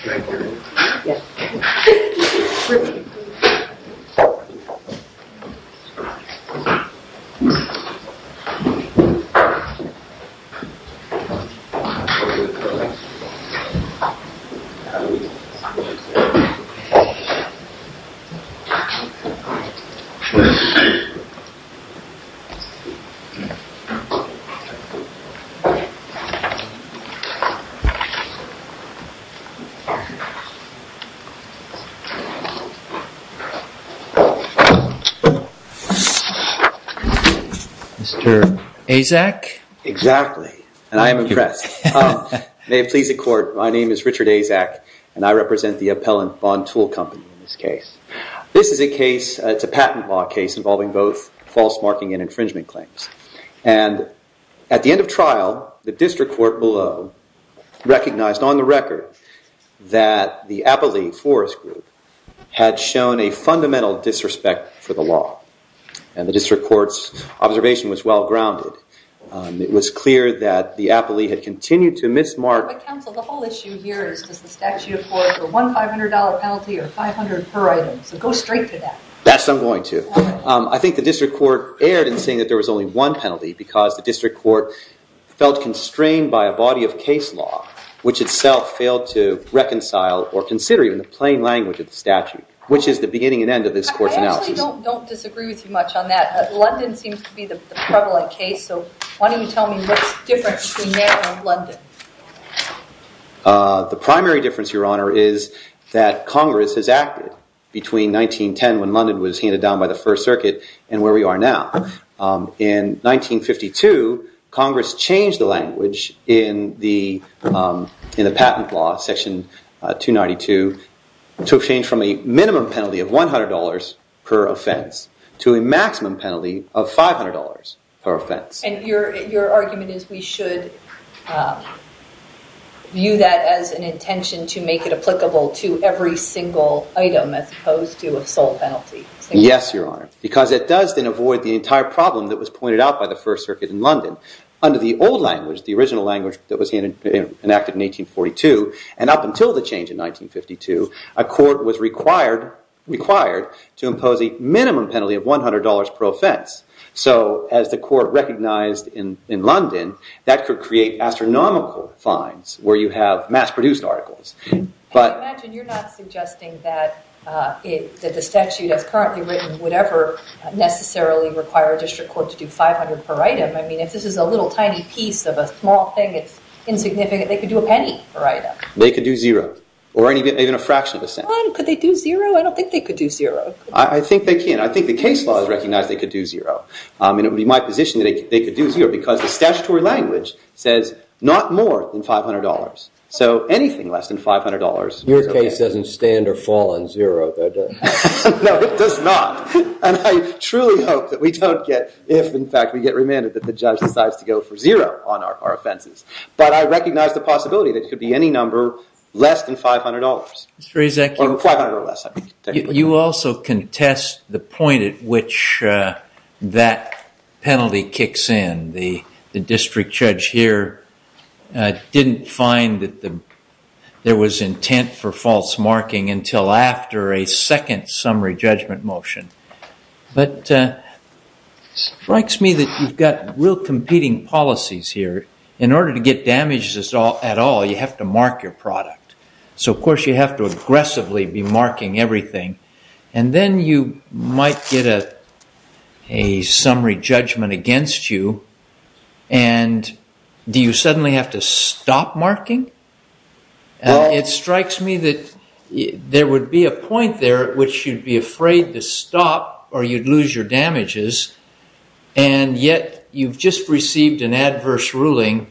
Thank you. You're welcome. Mr. Azak? Exactly. And I am impressed. May it please the court, my name is Richard Azak and I represent the Appellant Bond Tool Company in this case. This is a case, it's a patent law case involving both false marking and infringement claims. And at the end of trial, the district court below recognized on the record that the Appellee Forest Group had shown a fundamental disrespect for the law. And the district court's observation was well-grounded. It was clear that the Appellee had continued to mis-mark- But counsel, the whole issue here is does the statute afford a $1,500 penalty or $500 per item? So go straight to that. Yes, I'm going to. I think the district court erred in saying that there was only one penalty because the district court felt constrained by a body of case law, which itself failed to reconcile or consider even the plain language of the statute, which is the beginning and end of this court's analysis. I actually don't disagree with you much on that. London seems to be the prevalent case, so why don't you tell me what's the difference between there and London? The primary difference, Your Honor, is that Congress has acted between 1910 when London was handed down by the First Circuit and where we are now. In 1952, Congress changed the language in the patent law, Section 292, to change from a minimum penalty of $100 per offense to a maximum penalty of $500 per offense. Your argument is we should view that as an intention to make it applicable to every single item as opposed to a sole penalty. Yes, Your Honor, because it does then avoid the entire problem that was pointed out by the First Circuit in London. Under the old language, the original language that was enacted in 1842, and up until the change in 1952, a court was required to impose a minimum penalty of $100 per offense. So as the court recognized in London, that could create astronomical fines where you have mass-produced articles. I imagine you're not suggesting that the statute as currently written would ever necessarily require a district court to do $500 per item. I mean, if this is a little tiny piece of a small thing, it's insignificant. They could do a penny per item. They could do $0, or even a fraction of a cent. Could they do $0? I don't think they could do $0. I think they can. I think the case law has recognized they could do $0, and it would be my position that they could do $0, because the statutory language says not more than $500. So anything less than $500 is OK. Your case doesn't stand or fall on $0, though, does it? No, it does not. And I truly hope that we don't get, if in fact we get remanded, that the judge decides to go for $0 on our offenses. But I recognize the possibility that it could be any number less than $500. Mr. Rezekieff? Or $500 or less, I mean, technically. You also contest the point at which that penalty kicks in. The district judge here didn't find that there was intent for false marking until after a second summary judgment motion. But it strikes me that you've got real competing policies here. In order to get damages at all, you have to mark your product. So of course, you have to aggressively be marking everything. And then you might get a summary judgment against you. And do you suddenly have to stop marking? It strikes me that there would be a point there which you'd be afraid to stop, or you'd lose your damages. And yet, you've just received an adverse ruling.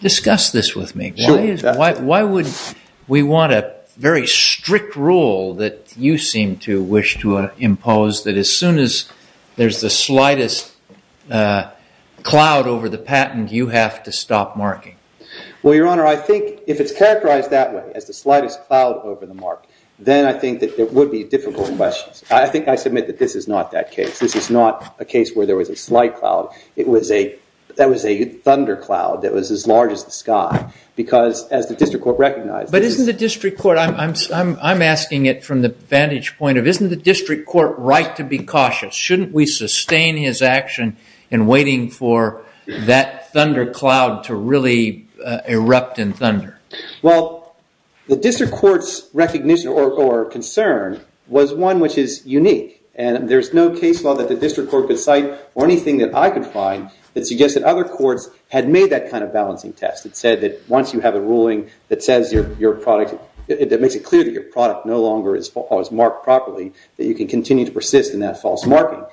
Discuss this with me. Why would we want a very strict rule that you seem to wish to impose, that as soon as there's the slightest cloud over the patent, you have to stop marking? Well, Your Honor, I think if it's characterized that way, as the slightest cloud over the mark, then I think that there would be difficult questions. I think I submit that this is not that case. This is not a case where there was a slight cloud. That was a thunder cloud that was as large as the sky. As the district court recognized. But isn't the district court, I'm asking it from the vantage point of, isn't the district court right to be cautious? Shouldn't we sustain his action in waiting for that thunder cloud to really erupt in thunder? Well, the district court's recognition or concern was one which is unique. And there's no case law that the district court could cite, or anything that I could find, that suggested other courts had made that kind of balancing test. It said that once you have a ruling that makes it clear that your product no longer is marked properly, that you can continue to persist in that false marking.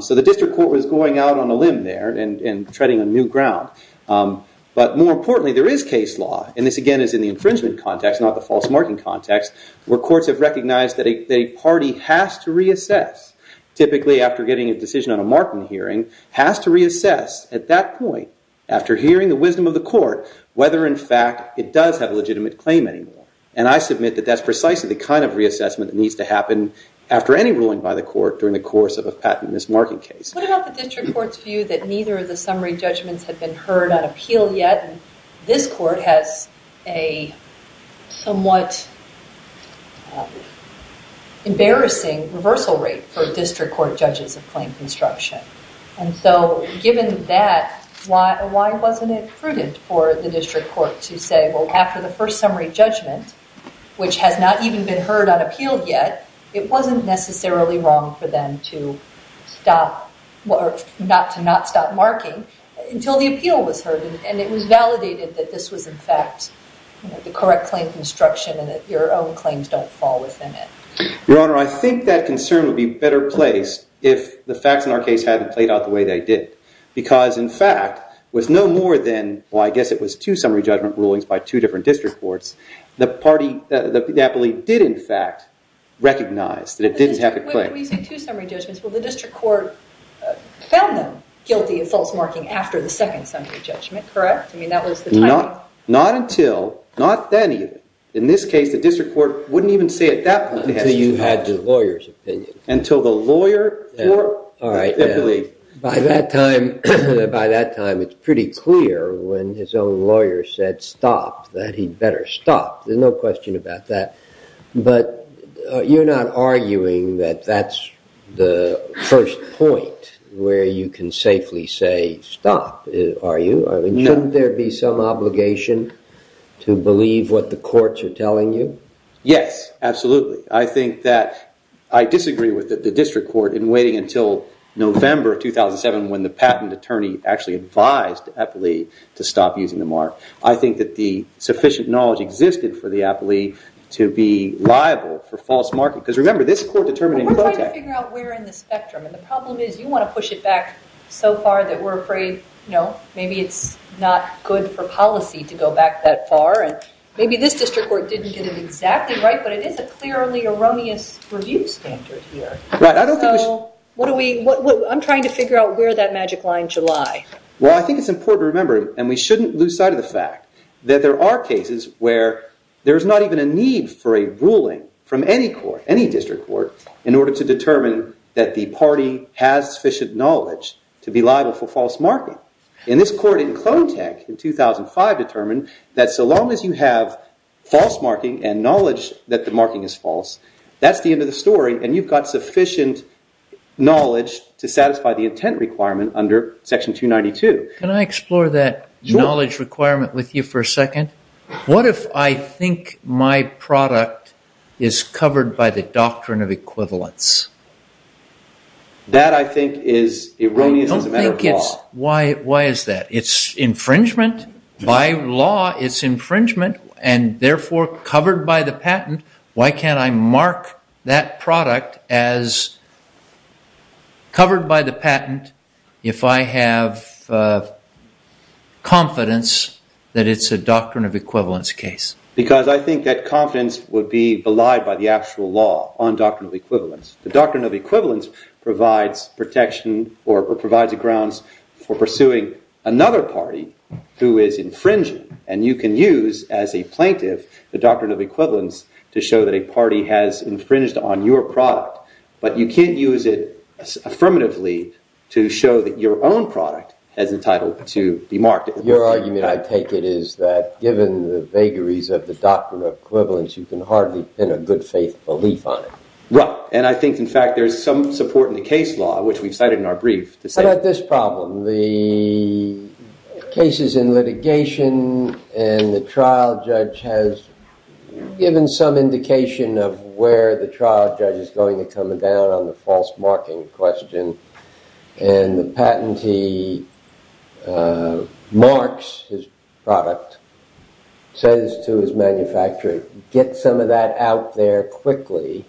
So the district court was going out on a limb there and treading on new ground. But more importantly, there is case law. And this, again, is in the infringement context, not the false marking context, where courts have recognized that a party has to reassess. Typically, after getting a decision on a marking hearing, has to reassess at that point. After hearing the wisdom of the court, whether, in fact, it does have a legitimate claim anymore. And I submit that that's precisely the kind of reassessment that needs to happen after any ruling by the court during the course of a patent mismarking case. What about the district court's view that neither of the summary judgments had been heard on appeal yet, and this court has a somewhat embarrassing reversal rate for district court judges of claim construction? And so given that, why wasn't it prudent for the district court to say, well, after the first summary judgment, which has not even been heard on appeal yet, it wasn't necessarily wrong for them to not stop marking until the appeal was heard. And it was validated that this was, in fact, the correct claim construction and that your own claims don't fall within it. Your Honor, I think that concern would be better placed if the facts in our case hadn't played out the way they did. Because, in fact, with no more than, well, I guess it was two summary judgment rulings by two different district courts, the party that appealed did, in fact, recognize that it didn't have a claim. When you say two summary judgments, well, the district court found them guilty of false marking after the second summary judgment, correct? I mean, that was the timing. Not until, not then even. In this case, the district court wouldn't even say at that point in time. Until you had the lawyer's opinion. Until the lawyer for, I believe. By that time, it's pretty clear when his own lawyer said, stop, that he'd better stop. There's no question about that. But you're not arguing that that's the first point where you can safely say, stop, are you? Shouldn't there be some obligation to believe what the courts are telling you? Yes, absolutely. I think that I disagree with the district court in waiting until November of 2007 when the patent attorney actually advised the appellee to stop using the mark. I think that the sufficient knowledge existed for the appellee to be liable for false marking. Because remember, this court determined in protect. We're trying to figure out where in the spectrum. And the problem is, you want to push it back so far that we're afraid maybe it's not good for policy to go back that far. And maybe this district court didn't get it exactly right. But it is a clearly erroneous review standard here. Right, I don't think we should. I'm trying to figure out where that magic line should lie. Well, I think it's important to remember, and we shouldn't lose sight of the fact, that there are cases where there is not even a need for a ruling from any court, any district court, in order to determine that the party has sufficient knowledge to be liable for false marking. And this court in Klontek in 2005 determined that so long as you have false marking and knowledge that the marking is false, that's the end of the story. And you've got sufficient knowledge to satisfy the intent requirement under section 292. Can I explore that knowledge requirement with you for a second? What if I think my product is covered by the doctrine of equivalence? That, I think, is erroneous as a matter of law. Why is that? It's infringement. By law, it's infringement. And therefore, covered by the patent, why can't I mark that product as covered by the patent if I have confidence that it's a doctrine of equivalence case? Because I think that confidence would be belied by the actual law on doctrine of equivalence. The doctrine of equivalence provides protection or provides grounds for pursuing another party who is infringing. And you can use, as a plaintiff, the doctrine of equivalence to show that a party has infringed on your product. But you can't use it affirmatively to show that your own product has the title to be marked. Your argument, I take it, is that given the vagaries of the doctrine of equivalence, you can hardly pin a good faith belief on it. Right. And I think, in fact, there's some support in the case law, which we've cited in our brief to say that this problem. The cases in litigation and the trial judge has given some indication of where the trial judge is going to come down on the false marking question. And the patentee marks his product, says to his manufacturer, get some of that out there quickly.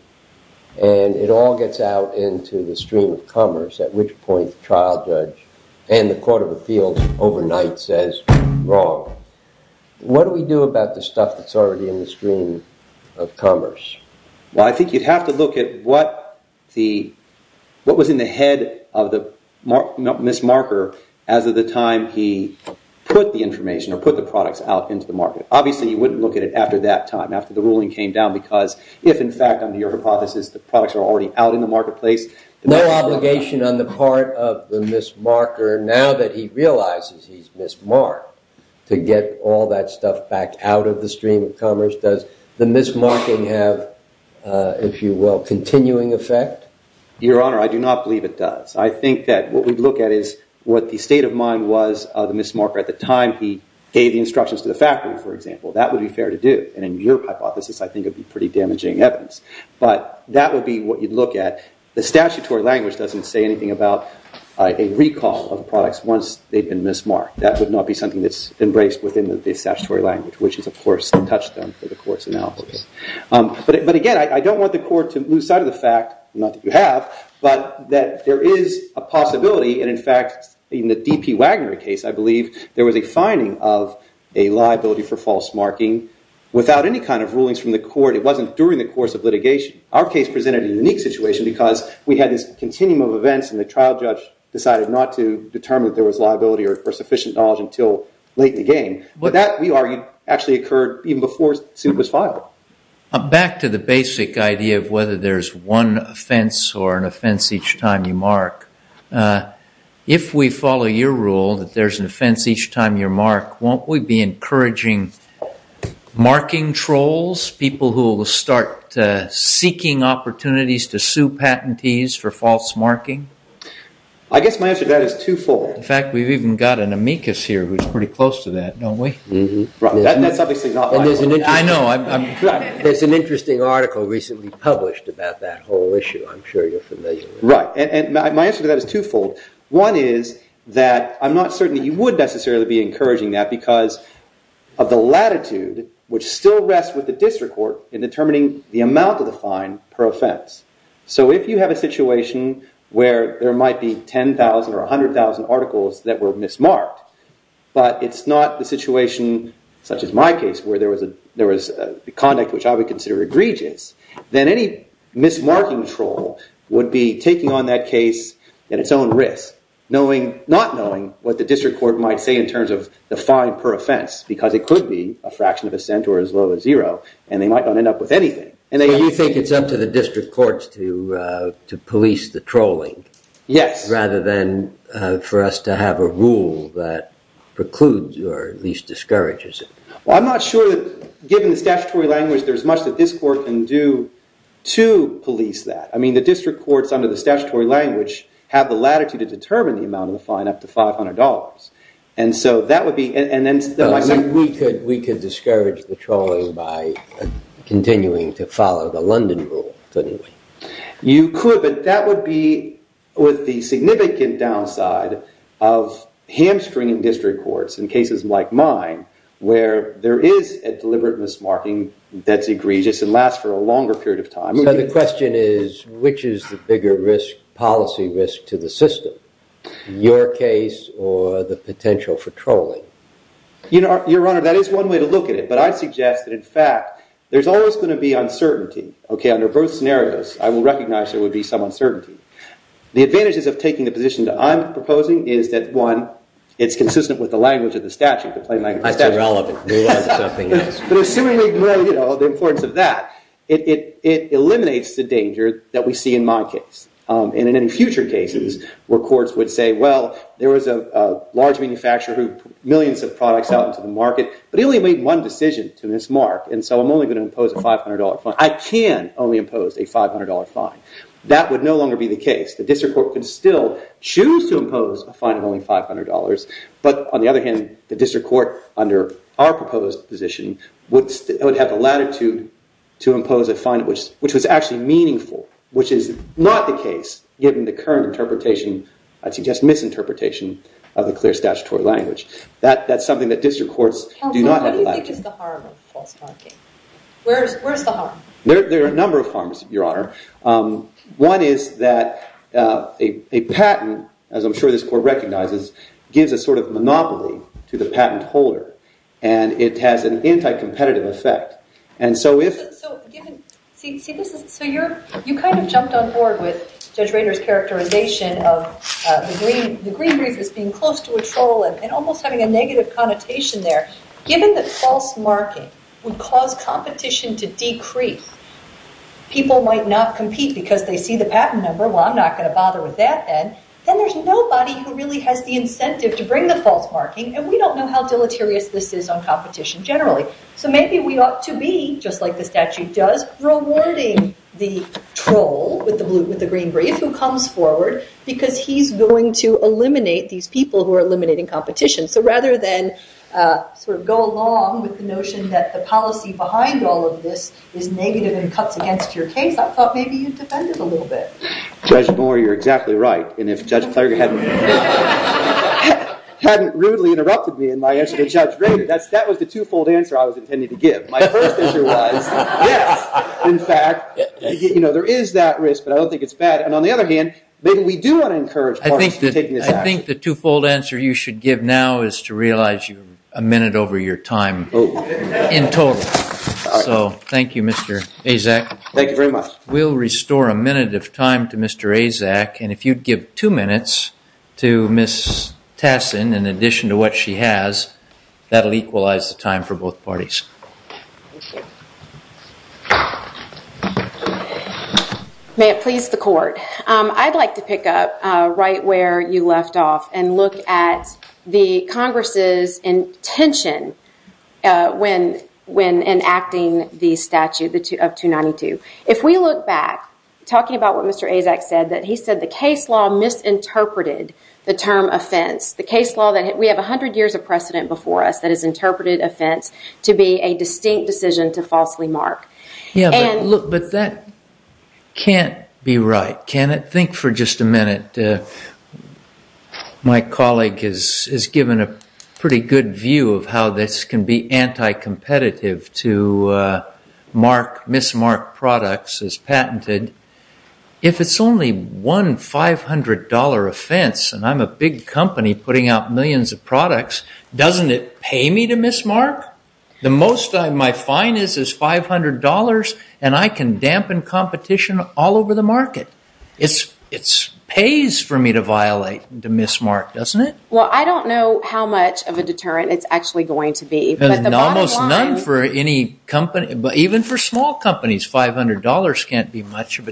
And it all gets out into the stream of commerce, at which point the trial judge and the court of appeals overnight says, wrong. What do we do about the stuff that's already in the stream of commerce? Well, I think you'd have to look at what was in the head of the mismarker as of the time he put the information or put the products out into the market. Obviously, you wouldn't look at it after that time, after the ruling came down. Because if, in fact, under your hypothesis, the products are already out in the marketplace, no obligation on the part of the mismarker, now that he realizes he's mismarked, to get all that stuff back out of the stream of commerce, does the mismarking have, if you will, continuing effect? Your Honor, I do not believe it does. I think that what we'd look at is what the state of mind was of the mismarker at the time he gave the instructions to the factory, for example. That would be fair to do. And in your hypothesis, I think it would be pretty damaging evidence. But that would be what you'd look at. The statutory language doesn't say anything about a recall of the products once they've been mismarked. That would not be something that's embraced within the statutory language, which has, of course, touched them for the court's analysis. But again, I don't want the court to lose sight of the fact, not that you have, but that there is a possibility. And in fact, in the DP Wagner case, I believe there was a finding of a liability for false marking without any kind of rulings from the court. It wasn't during the course of litigation. Our case presented a unique situation because we had this continuum of events. And the trial judge decided not to determine that there was liability or sufficient knowledge until late in the game. But that, we argued, actually occurred even before Soup was filed. Back to the basic idea of whether there's one offense or an offense each time you mark. If we follow your rule that there's an offense each time you mark, won't we be encouraging marking trolls, people who will start seeking opportunities to sue patentees for false marking? I guess my answer to that is twofold. In fact, we've even got an amicus here who's pretty close to that, don't we? Right, and that's obviously not my rule. I know. There's an interesting article recently published about that whole issue. I'm sure you're familiar with it. Right, and my answer to that is twofold. One is that I'm not certain that you would necessarily be encouraging that because of the latitude, which still rests with the district court in determining the amount of the fine per offense. So if you have a situation where there might be 10,000 or 100,000 articles that were mismarked, but it's not the situation, such as my case, where there was conduct which I would consider egregious, then any mismarking troll would be taking on that case at its own risk, not knowing what the district court might say in terms of the fine per offense, because it could be a fraction of a cent or as low as zero, and they might not end up with anything. And you think it's up to the district courts to police the trolling? Yes. Rather than for us to have a rule that precludes or at least discourages it. Well, I'm not sure that, given the statutory language, there's much that this court can do to police that. I mean, the district courts, under the statutory language, have the latitude to determine the amount of the fine up to $500. And so that would be, and then my second point. We could discourage the trolling by continuing to follow the London rule, couldn't we? You could, but that would be with the significant downside of hamstringing district courts in cases like mine, where there is a deliberate mismarking that's egregious and lasts for a longer period of time. So the question is, which is the bigger policy risk to the system, your case or the potential for trolling? Your Honor, that is one way to look at it. But I suggest that, in fact, there's always going to be uncertainty. Under both scenarios, I will recognize there would be some uncertainty. The advantages of taking the position that I'm proposing is that, one, it's consistent with the language of the statute, the plain language of the statute. That's irrelevant. We want something else. But assuming the importance of that, it eliminates the danger that we see in my case. And in future cases, where courts would say, well, there was a large manufacturer who millions of products out into the market, but it only made one decision to mismark. And so I'm only going to impose a $500 fine. I can only impose a $500 fine. That would no longer be the case. The district court can still choose to impose a fine of only $500. But on the other hand, the district court, under our proposed position, would have the latitude to impose a fine which was actually meaningful, which is not the case, given the current interpretation, I'd suggest misinterpretation, of the clear statutory language. That's something that district courts do not have the latitude. What do you think is the harm of false marking? Where's the harm? There are a number of harms, Your Honor. One is that a patent, as I'm sure this court recognizes, gives a sort of monopoly to the patent holder. And it has an anti-competitive effect. And so if- So given, see, this is, so you kind of jumped on board with Judge Rader's characterization of the Green Briefers being close to a troll and almost having a negative connotation there, given that false marking would cause competition to decrease, people might not compete because they see the patent number. Well, I'm not going to bother with that then. Then there's nobody who really has the incentive to bring the false marking. And we don't know how deleterious this is on competition generally. So maybe we ought to be, just like the statute does, rewarding the troll with the Green Brief who comes forward because he's going to eliminate these people who are in competition. So rather than sort of go along with the notion that the policy behind all of this is negative and cuts against your case, I thought maybe you'd defend it a little bit. Judge Moore, you're exactly right. And if Judge Klager hadn't rudely interrupted me in my answer to Judge Rader, that was the twofold answer I was intending to give. My first answer was, yes, in fact, there is that risk. But I don't think it's bad. And on the other hand, maybe we do want to encourage parties to take this action. I think the twofold answer you should give now is to realize you're a minute over your time in total. So thank you, Mr. Azak. Thank you very much. We'll restore a minute of time to Mr. Azak. And if you'd give two minutes to Ms. Tassin in addition to what she has, that'll equalize the time for both parties. May it please the court. I'd like to pick up right where you left off and look at the Congress's intention when enacting the statute of 292. If we look back, talking about what Mr. Azak said, that he said the case law misinterpreted the term offense, the case law that we have 100 years of precedent before us that has interpreted offense to be a distinct decision to falsely mark. Look, but that can't be right. Can it? Think for just a minute. My colleague has given a pretty good view of how this can be anti-competitive to mark, mismark products as patented. If it's only one $500 offense, and I'm a big company putting out millions of products, doesn't it pay me to mismark? The most my fine is $500, and I can dampen competition all over the market. It pays for me to violate, to mismark, doesn't it? Well, I don't know how much of a deterrent it's actually going to be. Almost none for any company, even for small companies. $500 can't be much of a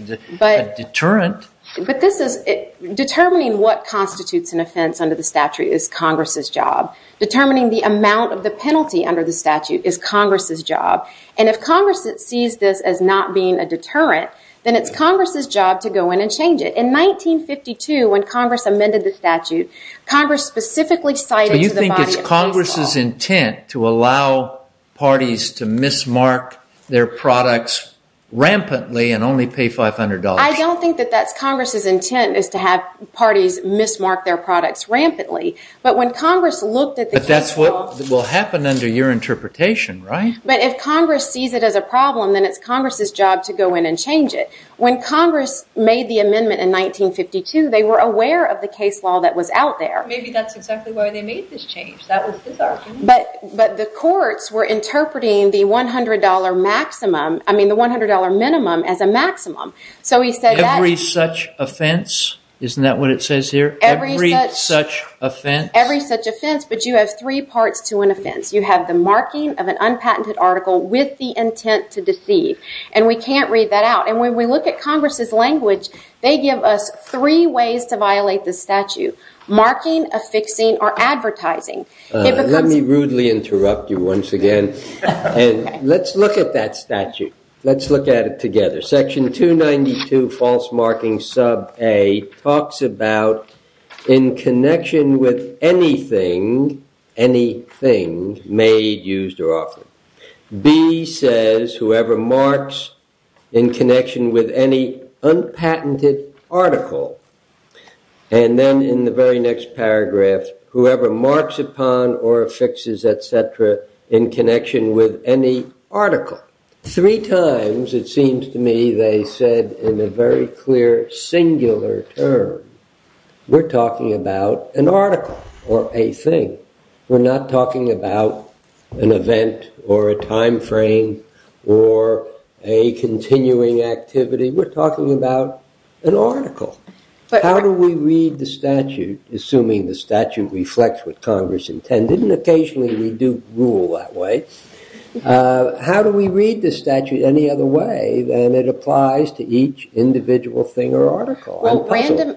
deterrent. But determining what constitutes an offense under the statute is Congress's job. Determining the amount of the penalty under the statute is Congress's job. And if Congress sees this as not being a deterrent, then it's Congress's job to go in and change it. In 1952, when Congress amended the statute, Congress specifically cited to the body of law. So you think it's Congress's intent to allow parties to mismark their products rampantly and only pay $500? I don't think that that's Congress's intent, is to have parties mismark their products rampantly. But when Congress looked at the case law. But that's what will happen under your interpretation, right? But if Congress sees it as a problem, then it's Congress's job to go in and change it. When Congress made the amendment in 1952, they were aware of the case law that was out there. Maybe that's exactly why they made this change. That was his argument. But the courts were interpreting the $100 minimum as a maximum. So he said that's. Every such offense? Isn't that what it says here? Every such offense? Every such offense. But you have three parts to an offense. You have the marking of an unpatented article with the intent to deceive. And we can't read that out. And when we look at Congress's language, they give us three ways to violate the statute. Marking, affixing, or advertising. Let me rudely interrupt you once again. Let's look at that statute. Let's look at it together. Section 292, false marking, sub A, talks about in connection with anything, anything made, used, or offered. B says, whoever marks in connection with any unpatented article. And then in the very next paragraph, whoever marks upon or affixes, et cetera, in connection with any article. Three times, it seems to me, they said in a very clear singular term, we're talking about an article or a thing. We're not talking about an event, or a time frame, or a continuing activity. We're talking about an article. How do we read the statute, assuming the statute reflects what Congress intended? And occasionally, we do rule that way. How do we read the statute any other way than it applies to each individual thing or article?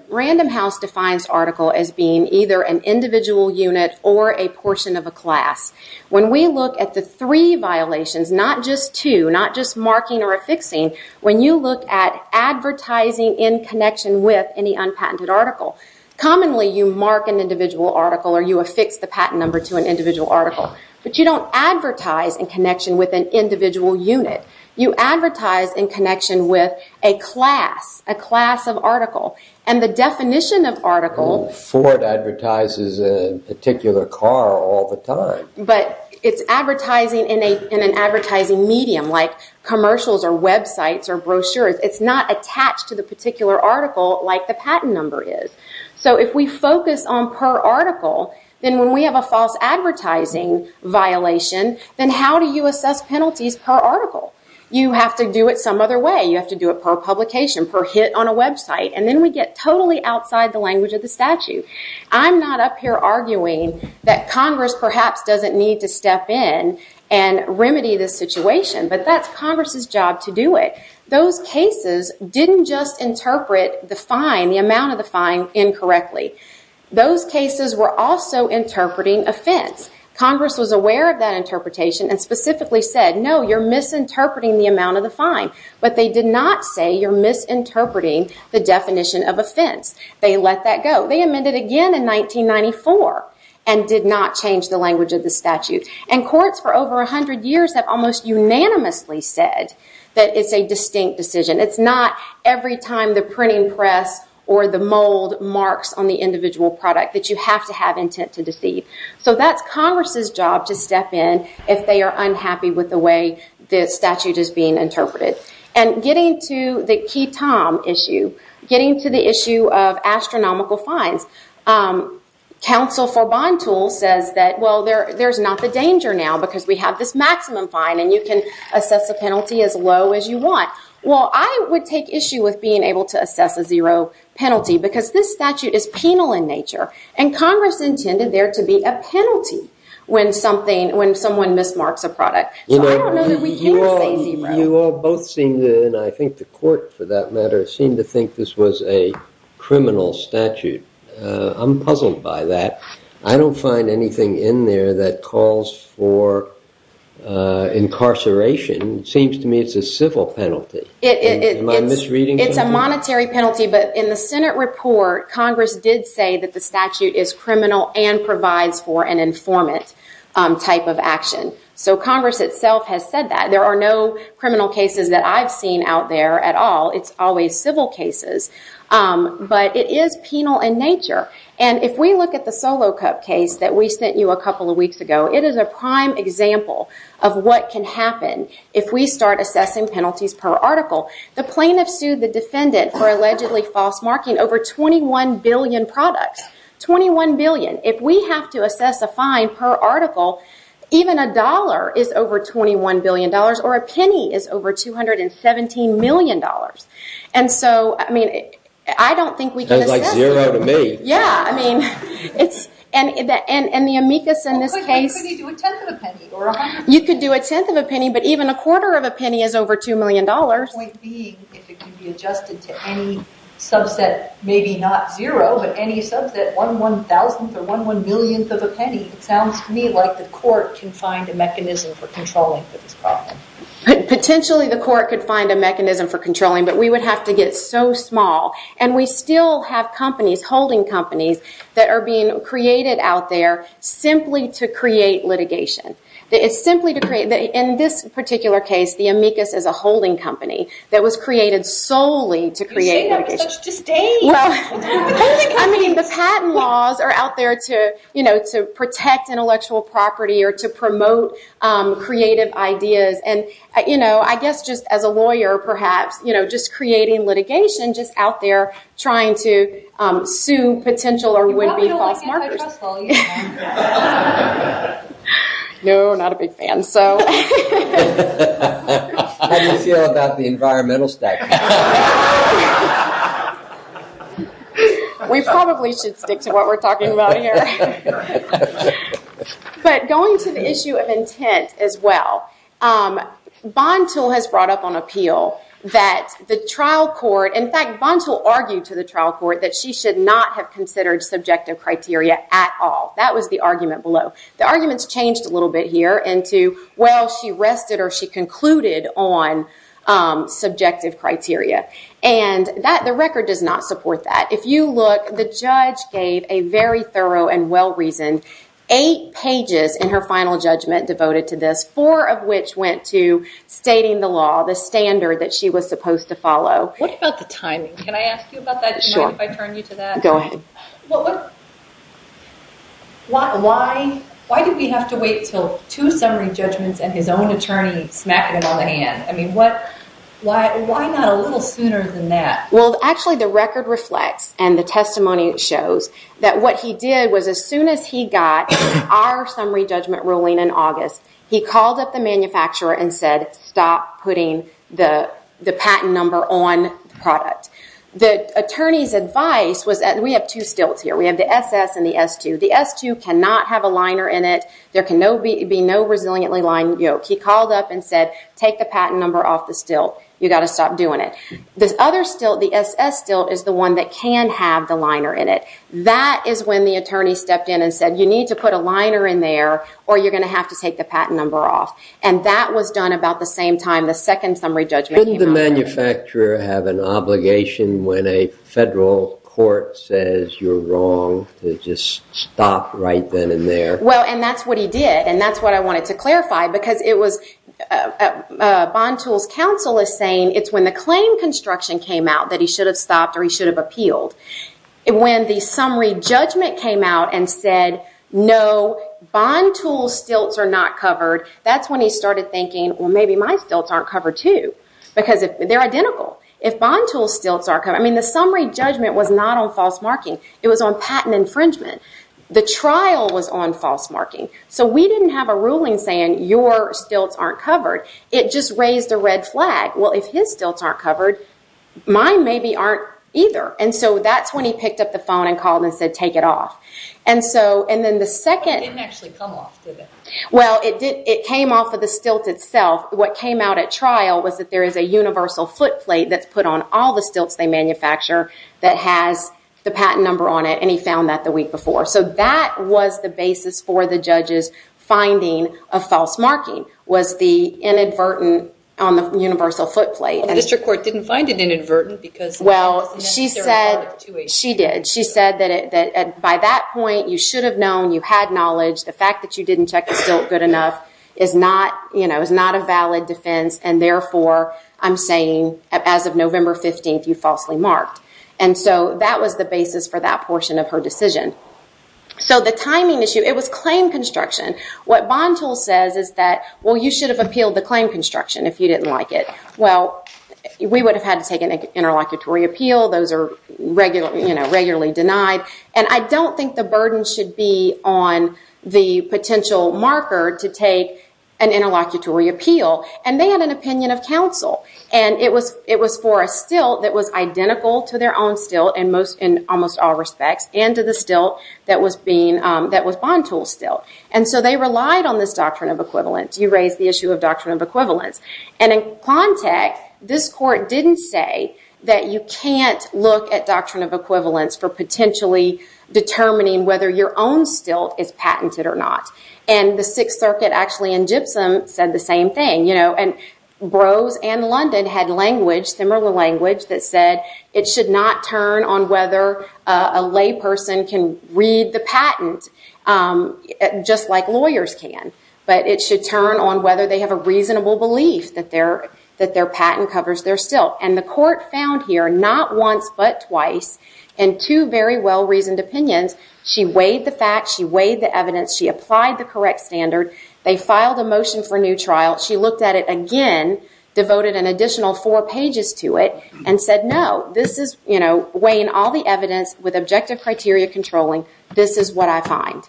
Random House defines article as being either an individual unit or a portion of a class. When we look at the three violations, not just two, not just marking or affixing, when you look at advertising in connection with any unpatented article, commonly, you mark an individual article, or you affix the patent number to an individual article. But you don't advertise in connection You advertise in connection with a class, a class of article. And the definition of article. Ford advertises a particular car all the time. But it's advertising in an advertising medium, like commercials, or websites, or brochures. It's not attached to the particular article like the patent number is. So if we focus on per article, then when we have a false advertising violation, then how do you assess penalties per article? You have to do it some other way. You have to do it per publication, per hit on a website. And then we get totally outside the language of the statute. I'm not up here arguing that Congress perhaps doesn't need to step in and remedy this situation. But that's Congress's job to do it. Those cases didn't just interpret the fine, the amount of the fine, incorrectly. Those cases were also interpreting offense. Congress was aware of that interpretation and specifically said, no, you're misinterpreting the amount of the fine. But they did not say you're misinterpreting the definition of offense. They let that go. They amended again in 1994 and did not change the language of the statute. And courts for over 100 years have almost unanimously said that it's a distinct decision. It's not every time the printing press or the mold marks on the individual product that you have to have intent to deceive. So that's Congress's job to step in if they are unhappy with the way the statute is being interpreted. And getting to the key time issue, getting to the issue of astronomical fines, counsel for bond tools says that, well, there's not the danger now because we have this maximum fine and you can assess a penalty as low as you want. Well, I would take issue with being able to assess a zero penalty because this statute is penal in nature. And Congress intended there to be a penalty when someone mismarks a product. So I don't know that we can say zero. You all both seem to, and I think the court for that matter, seem to think this was a criminal statute. I'm puzzled by that. I don't find anything in there that calls for incarceration. Seems to me it's a civil penalty. Am I misreading something? It's a monetary penalty. But in the Senate report, Congress did say that the statute is criminal and provides for an informant type of action. So Congress itself has said that. There are no criminal cases that I've seen out there at all. It's always civil cases. But it is penal in nature. And if we look at the Solo Cup case that we sent you a couple of weeks ago, it is a prime example of what can happen if we start assessing penalties per article. The plaintiff sued the defendant for allegedly false marking over 21 billion products, 21 billion. If we have to assess a fine per article, even a dollar is over $21 billion, or a penny is over $217 million. And so, I mean, I don't think we can assess it. That's like zero to me. Yeah, I mean, it's, and the amicus in this case. Well, but you could do a tenth of a penny, or a hundred. You could do a tenth of a penny, but even a quarter of a penny is over $2 million. Point being, if it can be adjusted to any subset, maybe not zero, but any subset, one one thousandth, or one one millionth of a penny, it means that the court can find a mechanism for controlling this problem. Potentially, the court could find a mechanism for controlling, but we would have to get so small. And we still have companies, holding companies, that are being created out there simply to create litigation. It's simply to create, in this particular case, the amicus is a holding company that was created solely to create litigation. You say that with such disdain. Well, I mean, the patent laws are out there to protect intellectual property, or to promote creative ideas. And I guess just as a lawyer, perhaps, just creating litigation, just out there trying to sue potential or would-be false markers. You're not feeling anti-trustful, you know. No, not a big fan, so. How do you feel about the environmental stack? No. We probably should stick to what we're talking about here. But going to the issue of intent as well, Bantul has brought up on appeal that the trial court, in fact, Bantul argued to the trial court that she should not have considered subjective criteria at all. That was the argument below. The arguments changed a little bit here into, well, she rested or she concluded on subjective criteria. And the record does not support that. If you look, the judge gave a very thorough and well-reasoned eight pages in her final judgment devoted to this, four of which went to stating the law, the standard that she was supposed to follow. What about the timing? Can I ask you about that? Sure. Do you mind if I turn you to that? Go ahead. Why did we have to wait till two summary judgments and his own attorney smacking him on the hand? I mean, why not a little sooner than that? Well, actually, the record reflects and the testimony shows that what he did was as soon as he got our summary judgment ruling in August, he called up the manufacturer and said, stop putting the patent number on the product. The attorney's advice was that we have two stilts here. We have the SS and the S2. The S2 cannot have a liner in it. There can be no resiliently lined yoke. He called up and said, take the patent number off the stilt. You've got to stop doing it. This other stilt, the SS stilt, is the one that can have the liner in it. That is when the attorney stepped in and said, you need to put a liner in there or you're going to have to take the patent number off. And that was done about the same time the second summary judgment came out. Did the manufacturer have an obligation when a federal court says you're wrong to just stop right then and there? Well, and that's what he did. And that's what I wanted to clarify, because it was Bond Tools counsel is saying, it's when the claim construction came out that he should have stopped or he should have appealed. When the summary judgment came out and said, no, Bond Tools stilts are not covered, that's when he started thinking, well, maybe my stilts aren't covered, too. Because they're identical. If Bond Tools stilts are covered, I mean, the summary judgment was not on false marking. It was on patent infringement. The trial was on false marking. So we didn't have a ruling saying, your stilts aren't covered. It just raised a red flag. Well, if his stilts aren't covered, mine maybe aren't either. And so that's when he picked up the phone and called and said, take it off. And so, and then the second. It didn't actually come off, did it? Well, it came off of the stilt itself. What came out at trial was that there is a universal foot plate that's put on all the stilts they manufacture that has the patent number on it. And he found that the week before. So that was the basis for the judge's finding of false marking, was the inadvertent on the universal foot plate. The district court didn't find it inadvertent, because? Well, she said, she did. She said that by that point, you should have known, you had knowledge. The fact that you didn't check the stilt good enough is not a valid defense. And therefore, I'm saying, as of November 15, you falsely marked. And so that was the basis for that portion of her decision. So the timing issue, it was claim construction. What Bantul says is that, well, you should have appealed the claim construction if you didn't like it. Well, we would have had to take an interlocutory appeal. Those are regularly denied. And I don't think the burden should be on the potential marker to take an interlocutory appeal. And they had an opinion of counsel. And it was for a stilt that was identical to their own stilt in almost all respects, and to the stilt that was Bantul's stilt. And so they relied on this doctrine of equivalence. You raise the issue of doctrine of equivalence. And in Quantech, this court didn't say that you can't look at doctrine of equivalence for potentially determining whether your own stilt is patented or not. And the Sixth Circuit, actually, in Gypsum said the same thing. And Brose and London had language, similar language, that said it should not turn on whether a lay person can read the patent just like lawyers can. But it should turn on whether they have a reasonable belief that their patent covers their stilt. And the court found here, not once but twice, in two very well-reasoned opinions, she weighed the facts, she weighed the evidence, she applied the correct standard. They filed a motion for a new trial. She looked at it again, devoted an additional four pages to it, and said, no, this is weighing all the evidence with objective criteria controlling. This is what I find.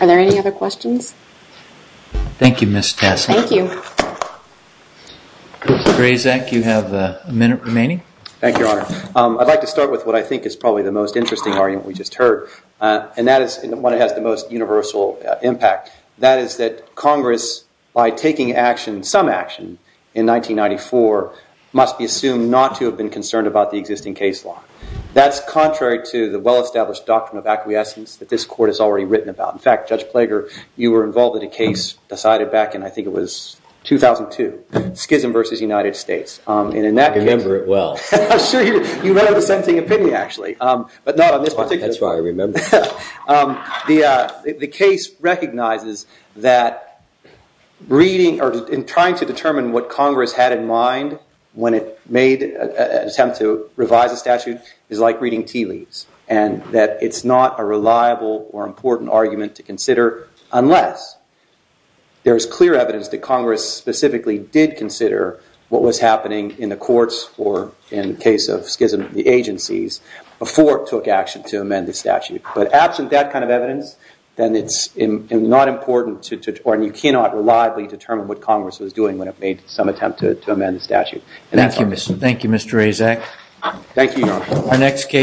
Are there any other questions? Thank you, Ms. Tessler. Thank you. Thank you, Your Honor. I'd like to start with what I think is probably the most interesting argument we just heard. And that is one that has the most universal impact. That is that Congress, by taking some action in 1994, must be assumed not to have been concerned about the existing case law. That's contrary to the well-established doctrine of acquiescence that this court has already written about. In fact, Judge Plager, you were involved in a case decided back in, I think it was, 2002, Schism versus United States. And in that case, I'm sure you remember it well. You wrote the same thing in Pinney, actually. But not on this particular one. That's why I remember. The case recognizes that reading or trying to determine what Congress had in mind when it made an attempt to revise a statute is like reading tea leaves. And that it's not a reliable or important argument to consider unless there is clear evidence that Congress specifically did consider what was happening in the courts or, in the case of Schism, the agencies before it took action to amend the statute. But absent that kind of evidence, then it's not important to, or you cannot reliably determine what Congress was doing when it made some attempt to amend the statute. Thank you, Mr. Azek. Thank you, Your Honor.